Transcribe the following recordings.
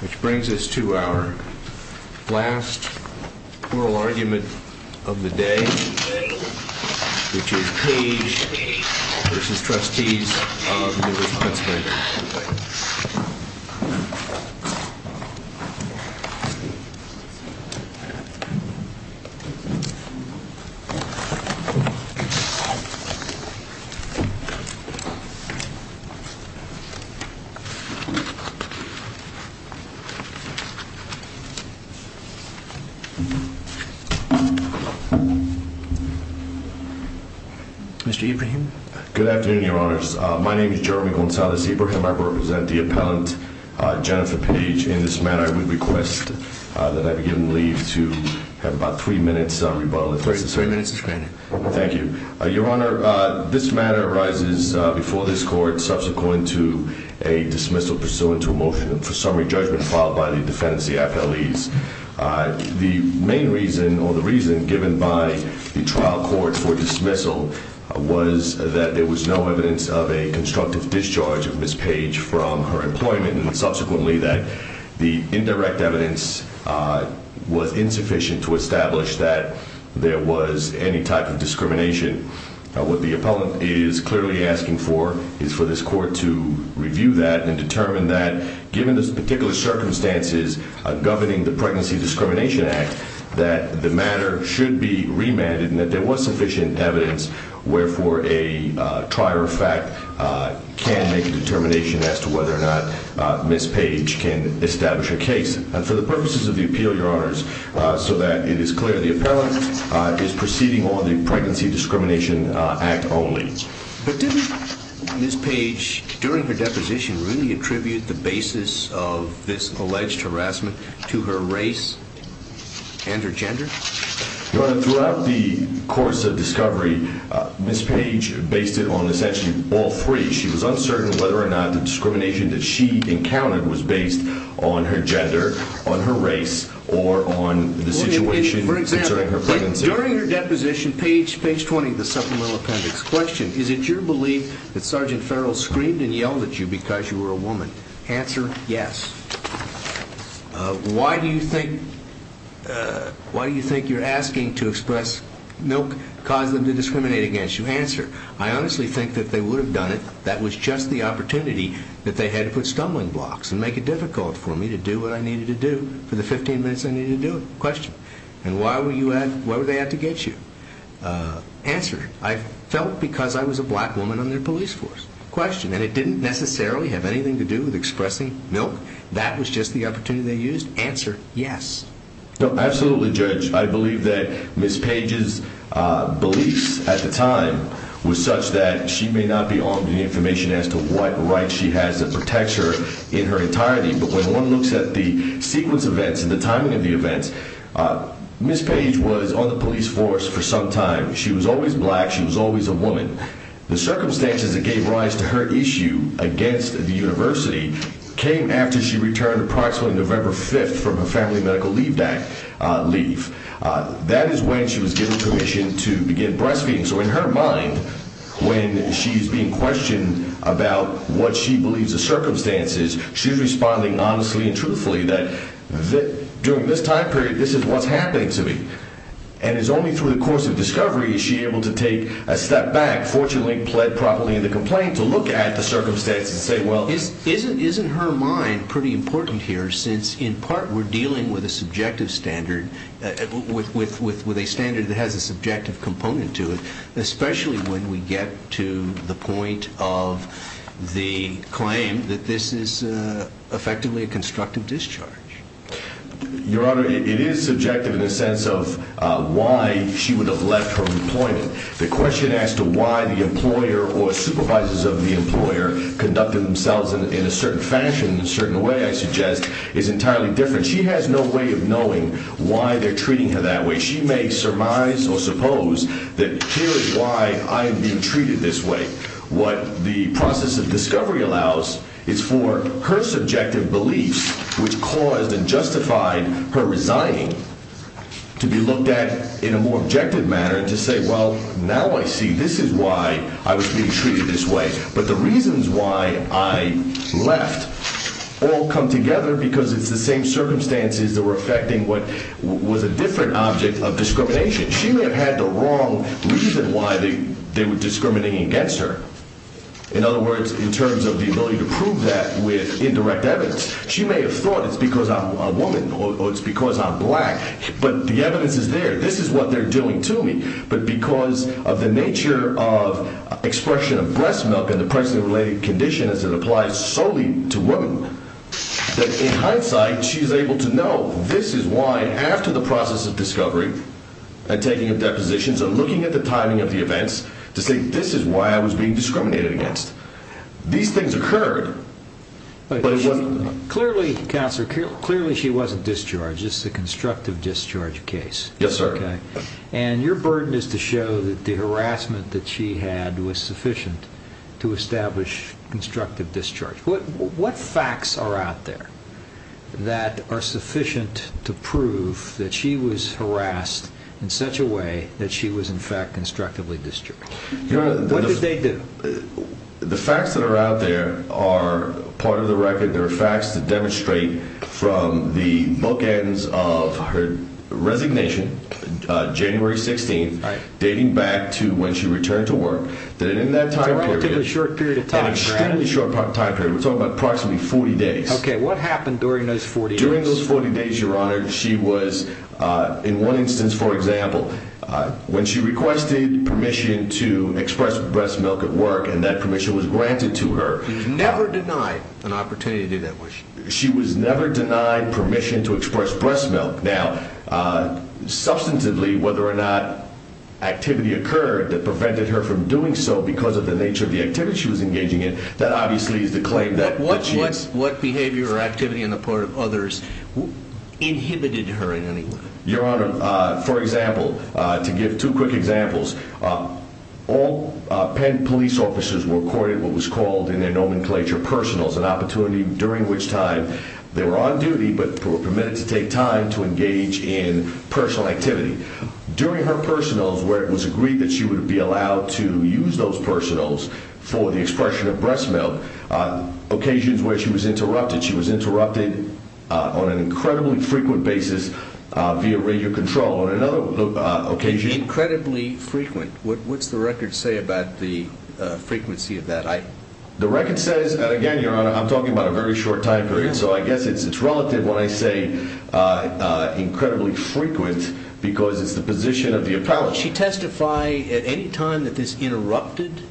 Which brings us to our last oral argument of the day, which is Page v. Trustees of the Mr. Ibrahim. Good afternoon, Your Honors. My name is Jeremy Gonzalez Ibrahim. I represent the appellant, Jennifer Page. In this matter, I would request that I be given leave to have about three minutes of rebuttal if necessary. Thank you. Your Honor, this matter arises before this court subsequent to a dismissal pursuant to a motion for summary judgment filed by the defendants, the appellees. The main reason or the reason given by the trial court for dismissal was that there was no evidence of a constructive discharge of Ms. Page from her employment and subsequently that the indirect evidence was insufficient to establish that there was any type of discrimination. What the appellant is clearly asking for is for this court to review that and determine that, given this particular circumstances governing the Pregnancy Discrimination Act, that the matter should be remanded and that there was sufficient evidence where for a trier of fact can make a and establish a case. And for the purposes of the appeal, Your Honors, so that it is clear, the appellant is proceeding on the Pregnancy Discrimination Act only. But didn't Ms. Page, during her deposition, really attribute the basis of this alleged harassment to her race and her gender? Your Honor, throughout the course of discovery, Ms. Page based it on essentially all three. She was on her gender, on her race, or on the situation concerning her pregnancy. For example, during her deposition, page 20 of the supplemental appendix, question, is it your belief that Sgt. Farrell screamed and yelled at you because you were a woman? Answer, yes. Why do you think you're asking to express milk caused them to discriminate against you? Answer, I honestly think that they would have done it. That was just the opportunity that they had to put stumbling blocks and make it for me to do what I needed to do for the 15 minutes I needed to do it. Question, and why were you at, why were they at to get you? Answer, I felt because I was a black woman on their police force. Question, and it didn't necessarily have anything to do with expressing milk? That was just the opportunity they used? Answer, yes. No, absolutely, Judge. I believe that Ms. Page's beliefs at the time was such that she may not be looks at the sequence of events and the timing of the events. Ms. Page was on the police force for some time. She was always black. She was always a woman. The circumstances that gave rise to her issue against the university came after she returned approximately November 5th from her family medical leave. That is when she was given permission to begin breastfeeding. So in her mind, when she's being questioned about what she believes the circumstances, she's responding honestly and truthfully that during this time period, this is what's happening to me. And it's only through the course of discovery is she able to take a step back, fortunately, pled properly in the complaint to look at the circumstances and say, well, this isn't, isn't her mind pretty important here since in part we're dealing with a subjective standard, with a standard that has a subjective component to it, especially when we get to the point of the claim that this is effectively a constructive discharge. Your Honor, it is subjective in the sense of why she would have left her employment. The question as to why the employer or supervisors of the employer conducted themselves in a certain fashion, in a certain way, I suggest, is entirely different. She has no way of knowing why they're treating her that way. She may surmise or suppose that here is why I am being treated this way. What the process of discovery allows is for her subjective beliefs, which caused and justified her resigning, to be looked at in a more objective manner to say, well, now I see this is why I was being treated this way. But the reasons why I left all come together because it's the same She may have had the wrong reason why they were discriminating against her. In other words, in terms of the ability to prove that with indirect evidence. She may have thought it's because I'm a woman or it's because I'm black, but the evidence is there. This is what they're doing to me. But because of the nature of expression of breast milk and the pricing-related condition as it applies solely to women, that in hindsight, she's able to know this is why after the process of discovery and taking of depositions and looking at the timing of the events to say, this is why I was being discriminated against. These things occurred, but it wasn't- Clearly, Counselor, clearly she wasn't discharged. This is a constructive discharge case. Yes, sir. And your burden is to show that the harassment that she had was sufficient to establish constructive discharge. What facts are out there that are sufficient to prove that she was harassed in such a way that she was in fact constructively discharged? What did they do? The facts that are out there are part of the record. They're facts that demonstrate from the bulk ends of her resignation, January 16th, dating back to when she returned to work, that in that time period, an extremely short time period, we're talking about approximately 40 days. Okay, what happened during those 40 days? During those 40 days, Your Honor, she was, in one instance, for example, when she requested permission to express breast milk at work, and that permission was granted to her. She was never denied an opportunity to do that. She was never denied permission to express breast milk. Now, substantively, whether or not activity occurred that prevented her from doing so because of the nature of the activity she was engaging in, that obviously is the claim that she is- What behavior or activity on the part of others inhibited her in any way? Your Honor, for example, to give two quick examples, all Penn police officers were accorded what was called in their nomenclature, personals, an opportunity during which time they were on duty but were permitted to take time to engage in personal activity. During her personals, where it was agreed that she would be via radio control. On another occasion- Incredibly frequent. What's the record say about the frequency of that? The record says, and again, Your Honor, I'm talking about a very short time period, so I guess it's relative when I say incredibly frequent because it's the position of the appellate. Did she testify at any time that this interrupted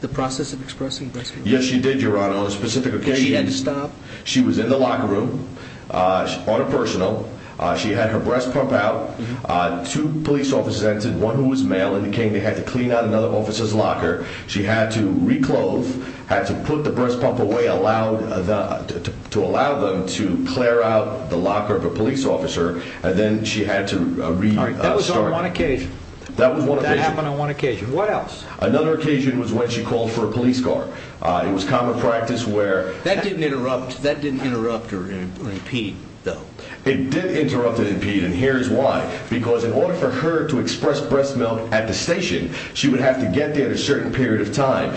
the process of expressing breast milk? Yes, she did, Your Honor. On a specific occasion- Did she have to stop? She was in the locker room on a personal. She had her breast pump out. Two police officers entered, one who was male, and it became they had to clean out another officer's locker. She had to re-clothe, had to put the breast pump away to allow them to clear out the locker of a police officer, and then she had to re-start. That was on one occasion. That was one occasion. That happened on one occasion. What else? Another occasion was when she called for a police car. It was common practice where- That didn't interrupt or impede, though. It did interrupt and impede, and here's why. Because in order for her to express breast milk at the station, she would have to get there at a certain period of time.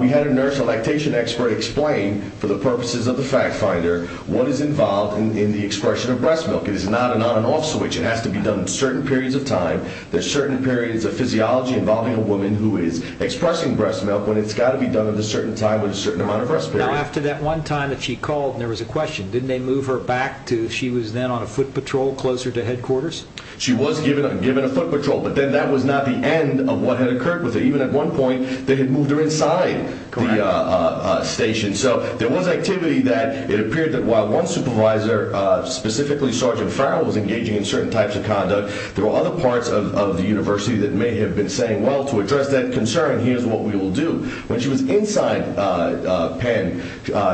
We had a nurse, a lactation expert, explain for the purposes of the fact finder what is involved in the expression of breast milk. It is not an on and off switch. It has to be done at certain periods of time. There's certain periods of physiology involving a woman who is expressing breast milk when it's got to be done at a certain time with a certain amount of breast milk. After that one time that she called, there was a question. Didn't they move her back to, she was then on a foot patrol closer to headquarters? She was given a foot patrol, but then that was not the end of what had occurred with her. Even at one point, they had moved her inside the station. There was activity that it appeared that while one supervisor, specifically Sergeant Farrell, was engaging in certain types of conduct, there were other parts of the university that may have been saying, well, to address that concern, here's what we will do. When she was inside Penn,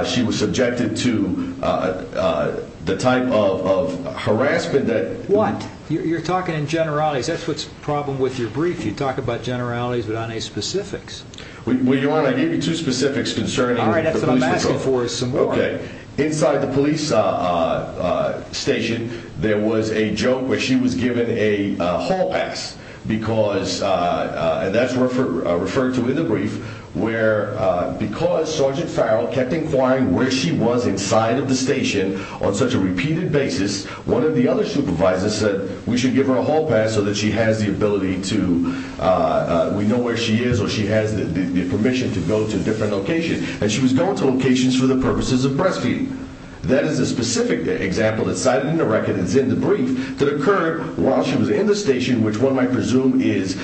she was subjected to the type of harassment that... What? You're talking in generalities. That's what's the problem with your brief. You talk about generalities without any specifics. Well, Your Honor, I gave you two specifics concerning... All right, that's what I'm asking for is some more. Inside the police station, there was a joke where she was given a hall pass because, and that's referred to in the brief, where because Sergeant Farrell kept inquiring where she was inside of the station on such a repeated basis, one of the other supervisors said we should give her a hall pass so that she has the ability to, we know where she is or she has the permission to go to different locations. And she was going to locations for the purposes of breastfeeding. That is a specific example that's cited in the record that's in the brief that occurred while she was in the station, which one might presume is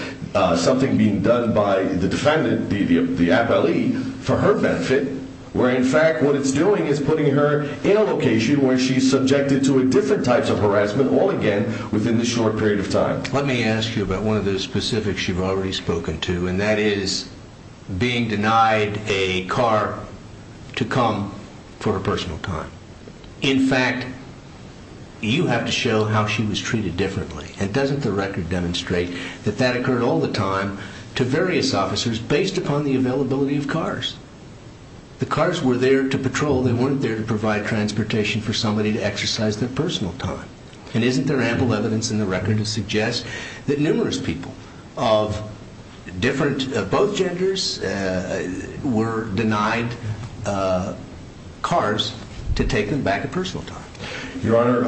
something being done by the defendant, the appellee, for her benefit, where in fact what it's doing is putting her in a location where she's subjected to different types of harassment all again within the short period of time. Let me ask you about one of the specifics you've already spoken to, and that is being denied a car to come for her personal time. In fact, you have to show how she was treated differently, and doesn't the record demonstrate that that occurred all the time to various officers based upon the availability of cars? The cars were there to patrol. They weren't there to provide transportation for somebody to exercise their personal time. And isn't there ample evidence in the record to suggest that numerous people of different, both genders, were denied cars to take them back at personal time? Your Honor,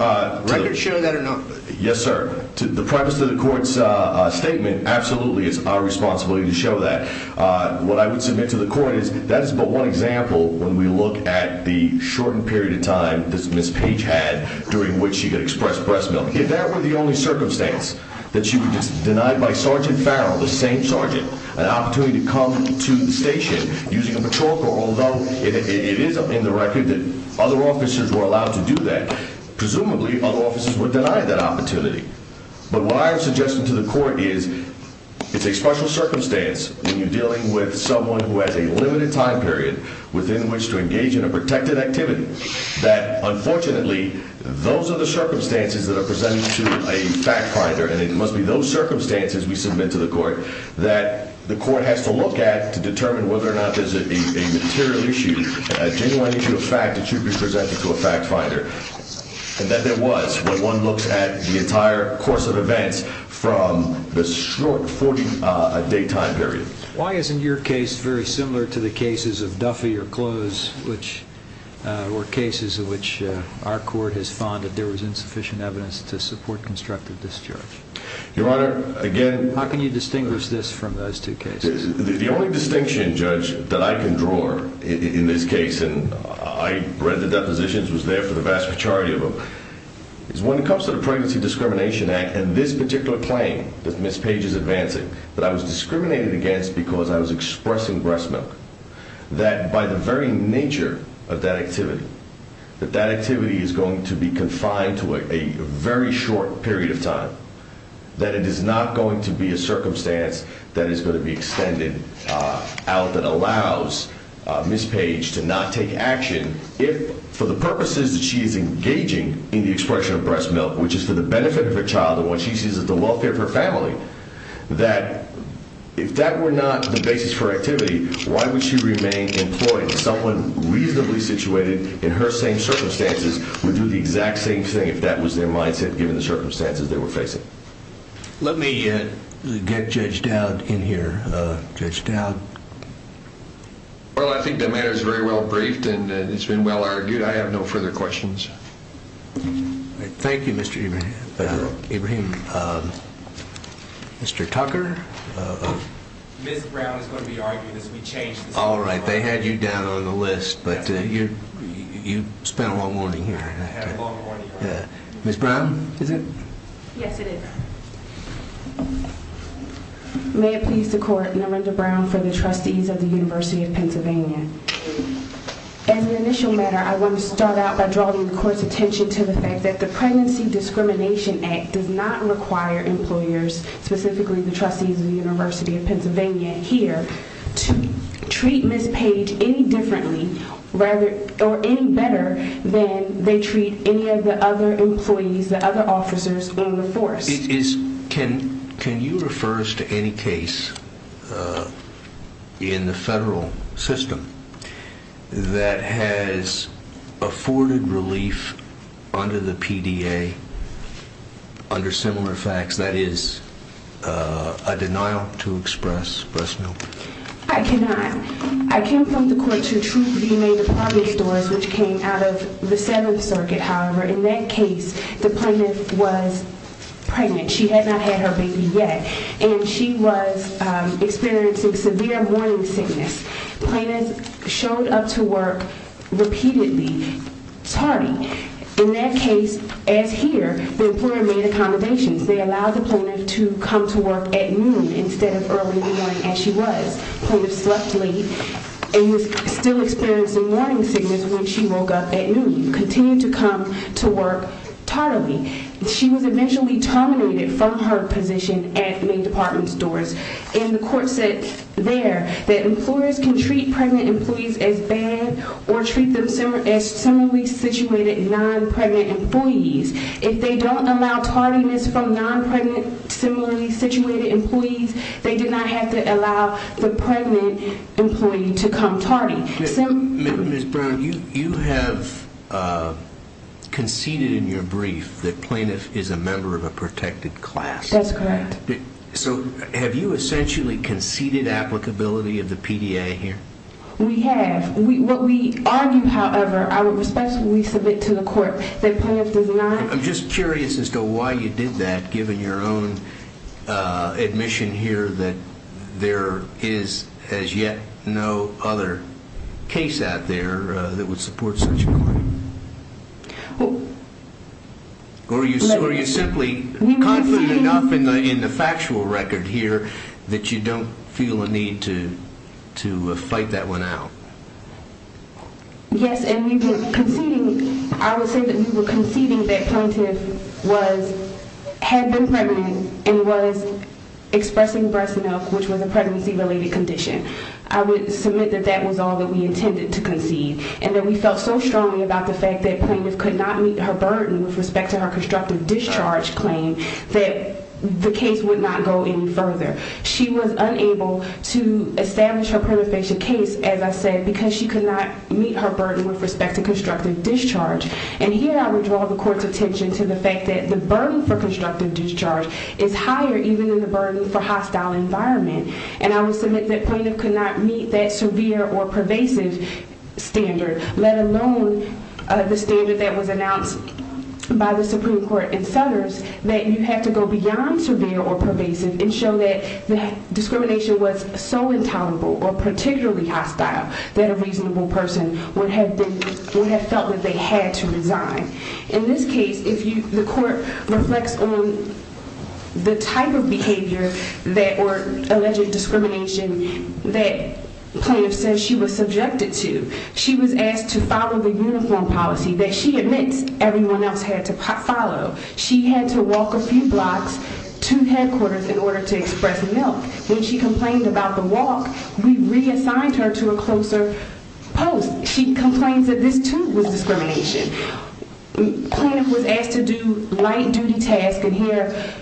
record show that or not? Yes, sir. The purpose of the court's statement absolutely is our responsibility to show that. What I would submit to the court is that is but one example when we look at the shortened period of time that Ms. Page had during which she could express breast milk. If that were the only circumstance, that she was denied by Sergeant Farrell, the same sergeant, an opportunity to come to the station using a patrol car, although it is in the record that other officers were allowed to do that. Presumably, other officers were denied that opportunity. But what I am suggesting to the court is it's a special circumstance when you're dealing with someone who has a limited time period within which to engage in a protected activity. That, unfortunately, those are the circumstances that are presented to a fact finder, and it must be those circumstances we submit to the court that the court has to look at to determine whether or not there's a material issue, a genuine issue of fact, that should be presented to a fact finder. And that there was when one looks at the entire course of events from the short 40 day time period. Why isn't your case very similar to the cases of Duffy or Close, which were cases in which our court has found that there was insufficient evidence to support constructive discharge? Your Honor, again... How can you distinguish this from those two cases? The only distinction, Judge, that I can draw in this case, and I read the depositions, was there for the vast majority of them, is when it comes to the Pregnancy Discrimination Act and this particular claim that Ms. Page is advancing, that I was discriminated against because I was expressing breast milk. That by the very nature of that activity, that that activity is going to be confined to a very short period of time. That it is not going to be a circumstance that is going to be extended out that allows Ms. Page to not take action if, for the purposes that she is engaging in the expression of breast milk, which is for the benefit of her child and what she sees as the welfare of her family. That if that were not the basis for activity, why would she remain employed? Someone reasonably situated in her same circumstances would do the exact same thing if that was their mindset given the circumstances they were facing. Let me get Judge Dowd in here. Judge Dowd? Well, I think the matter is very well briefed and it's been well argued. I have no further questions. Thank you, Mr. Ibrahim. Mr. Tucker? Ms. Brown is going to be arguing this. We changed the subject. Alright, they had you down on the list, but you spent a long morning here. I had a long morning. Ms. Brown? Yes, it is. May it please the court, Norenda Brown for the trustees of the University of Pennsylvania. As an initial matter, I want to start out by drawing the court's attention to the fact that the Pregnancy Discrimination Act does not require employers, specifically the trustees of the University of Pennsylvania here, to treat Ms. Page any differently or any better than they treat any of the other employees, the other officers on the force. Can you refer us to any case in the federal system that has afforded relief under the PDA under similar facts? That is, a denial to express breast milk? I cannot. I came from the court to Truth V. May Department Stores, which came out of the Seventh Circuit, however. In that case, the plaintiff was pregnant. She had not had her baby yet and she was experiencing severe morning sickness. Plaintiffs showed up to work repeatedly, tardy. In that case, as here, the employer made accommodations. They allowed the plaintiff to come to work at noon instead of early in the morning as she was. Plaintiff slept late and was still experiencing morning sickness when she woke up at noon. She continued to come to work tardily. She was eventually terminated from her position at May Department Stores and the court said there that employers can treat pregnant employees as bad or treat them as similarly situated, non-pregnant employees. If they don't allow tardiness from non-pregnant, similarly situated employees, they do not have to allow the pregnant employee to come tardy. Ms. Brown, you have conceded in your brief that plaintiff is a member of a protected class. That's correct. So, have you essentially conceded applicability of the PDA here? We have. What we argue, however, I would respectfully submit to the court that plaintiff does not… I'm just curious as to why you did that, given your own admission here that there is, as yet, no other case out there that would support such a claim? Well… Or are you simply confident enough in the factual record here that you don't feel a need to fight that one out? Yes, and we were conceding… I would say that we were conceding that plaintiff was… had been pregnant and was expressing breast milk, which was a pregnancy-related condition. I would submit that that was all that we intended to concede and that we felt so strongly about the fact that plaintiff could not meet her burden with respect to her constructive discharge claim that the case would not go any further. She was unable to establish her pernicious case, as I said, because she could not meet her burden with respect to constructive discharge. And here I would draw the court's attention to the fact that the burden for constructive discharge is higher even than the burden for hostile environment. And I would submit that plaintiff could not meet that severe or pervasive standard, let alone the standard that was announced by the Supreme Court in Sellers, that you have to go beyond severe or pervasive and show that the discrimination was so intolerable or particularly hostile that a reasonable person would have felt that they had to resign. In this case, the court reflects on the type of behavior or alleged discrimination that plaintiff says she was subjected to. She was asked to follow the uniform policy that she admits everyone else had to follow. She had to walk a few blocks to headquarters in order to express milk. When she complained about the walk, we reassigned her to a closer post. She complains that this, too, was discrimination. Plaintiff was asked to do light-duty tasks, and here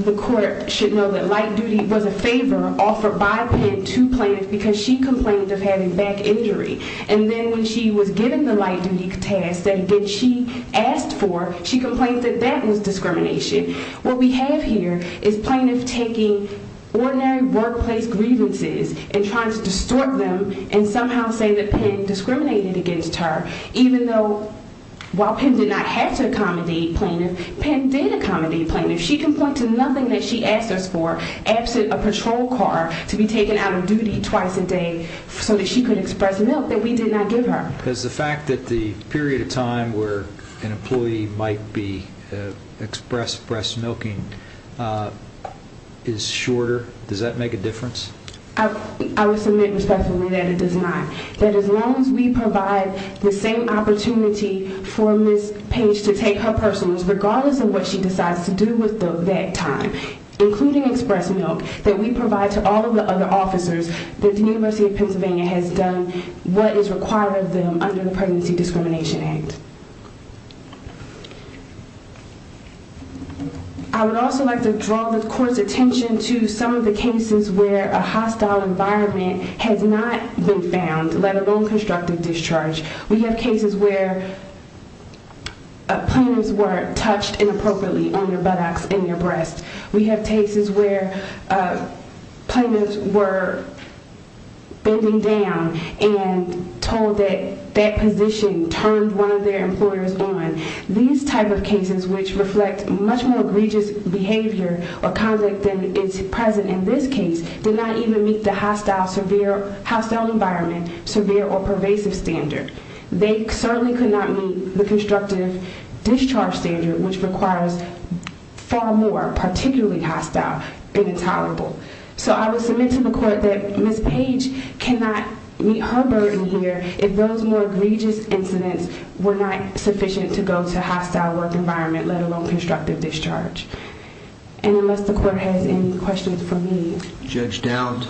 the court should know that light-duty was a favor offered by Penn to plaintiff because she complained of having back injury. And then when she was given the light-duty task that she asked for, she complained that that was discrimination. What we have here is plaintiff taking ordinary workplace grievances and trying to distort them and somehow say that Penn discriminated against her, even though while Penn did not have to accommodate plaintiff, Penn did accommodate plaintiff. She complained to nothing that she asked us for, absent a patrol car, to be taken out of duty twice a day so that she could express milk that we did not give her. Does the fact that the period of time where an employee might be expressed breast milking is shorter, does that make a difference? I would submit respectfully that it does not. That as long as we provide the same opportunity for Ms. Page to take her personal, regardless of what she decides to do with that time, including express milk that we provide to all of the other officers, the University of Pennsylvania has done what is required of them under the Pregnancy Discrimination Act. I would also like to draw the court's attention to some of the cases where a hostile environment has not been found, let alone constructive discharge. We have cases where plaintiffs were touched inappropriately on their buttocks and their breasts. We have cases where plaintiffs were bending down and told that that position turned one of their employers on. These type of cases, which reflect much more egregious behavior or conduct than is present in this case, did not even meet the hostile environment, severe or pervasive standard. They certainly could not meet the constructive discharge standard, which requires far more, particularly hostile and intolerable. I would submit to the court that Ms. Page cannot meet her burden here if those more egregious incidents were not sufficient to go to a hostile work environment, let alone constructive discharge. Unless the court has any questions for me. Judge Downs.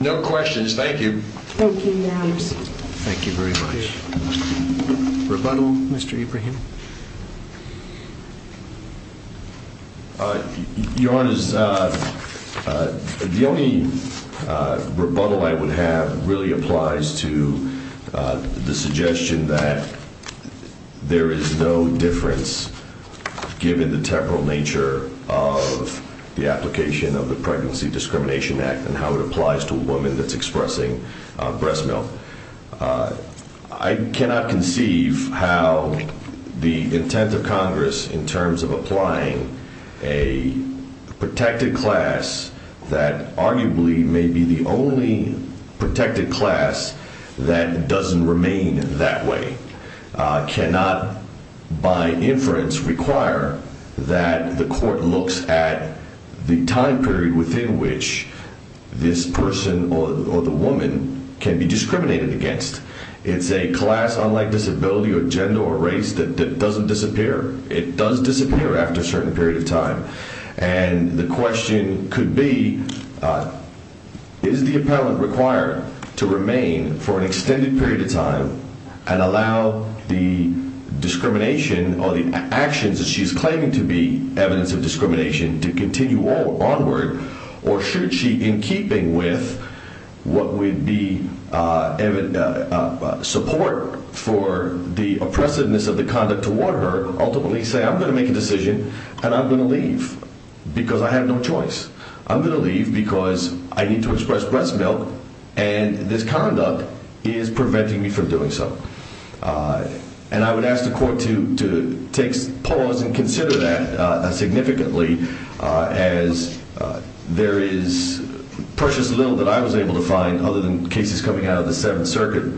No questions. Thank you. Thank you, Your Honor. Thank you very much. Rebuttal, Mr. Ibrahim. Your Honor, the only rebuttal I would have really applies to the suggestion that there is no difference given the temporal nature of the application of the Pregnancy Discrimination Act and how it applies to a woman that's expressing breast milk. I cannot conceive how the intent of Congress, in terms of applying a protected class that arguably may be the only protected class that doesn't remain that way, cannot, by inference, require that the court looks at the time period within which this person or the woman can be discriminated against. It's a class, unlike disability or gender or race, that doesn't disappear. It does disappear after a certain period of time. And the question could be, is the appellant required to remain for an extended period of time and allow the discrimination or the actions that she's claiming to be evidence of discrimination to continue onward? Or should she, in keeping with what would be support for the oppressiveness of the conduct toward her, ultimately say, I'm going to make a decision and I'm going to leave because I have no choice. I'm going to leave because I need to express breast milk and this conduct is preventing me from doing so. And I would ask the court to take pause and consider that significantly as there is precious little that I was able to find, other than cases coming out of the Seventh Circuit,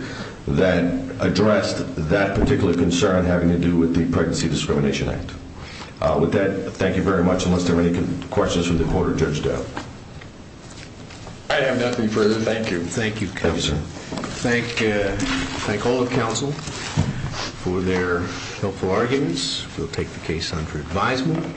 that addressed that particular concern having to do with the Pregnancy Discrimination Act. With that, thank you very much. Unless there are any questions for the court or Judge Dowd. I have nothing further. Thank you. Thank you, Counselor. Thank all of counsel for their helpful arguments. We'll take the case under advisement.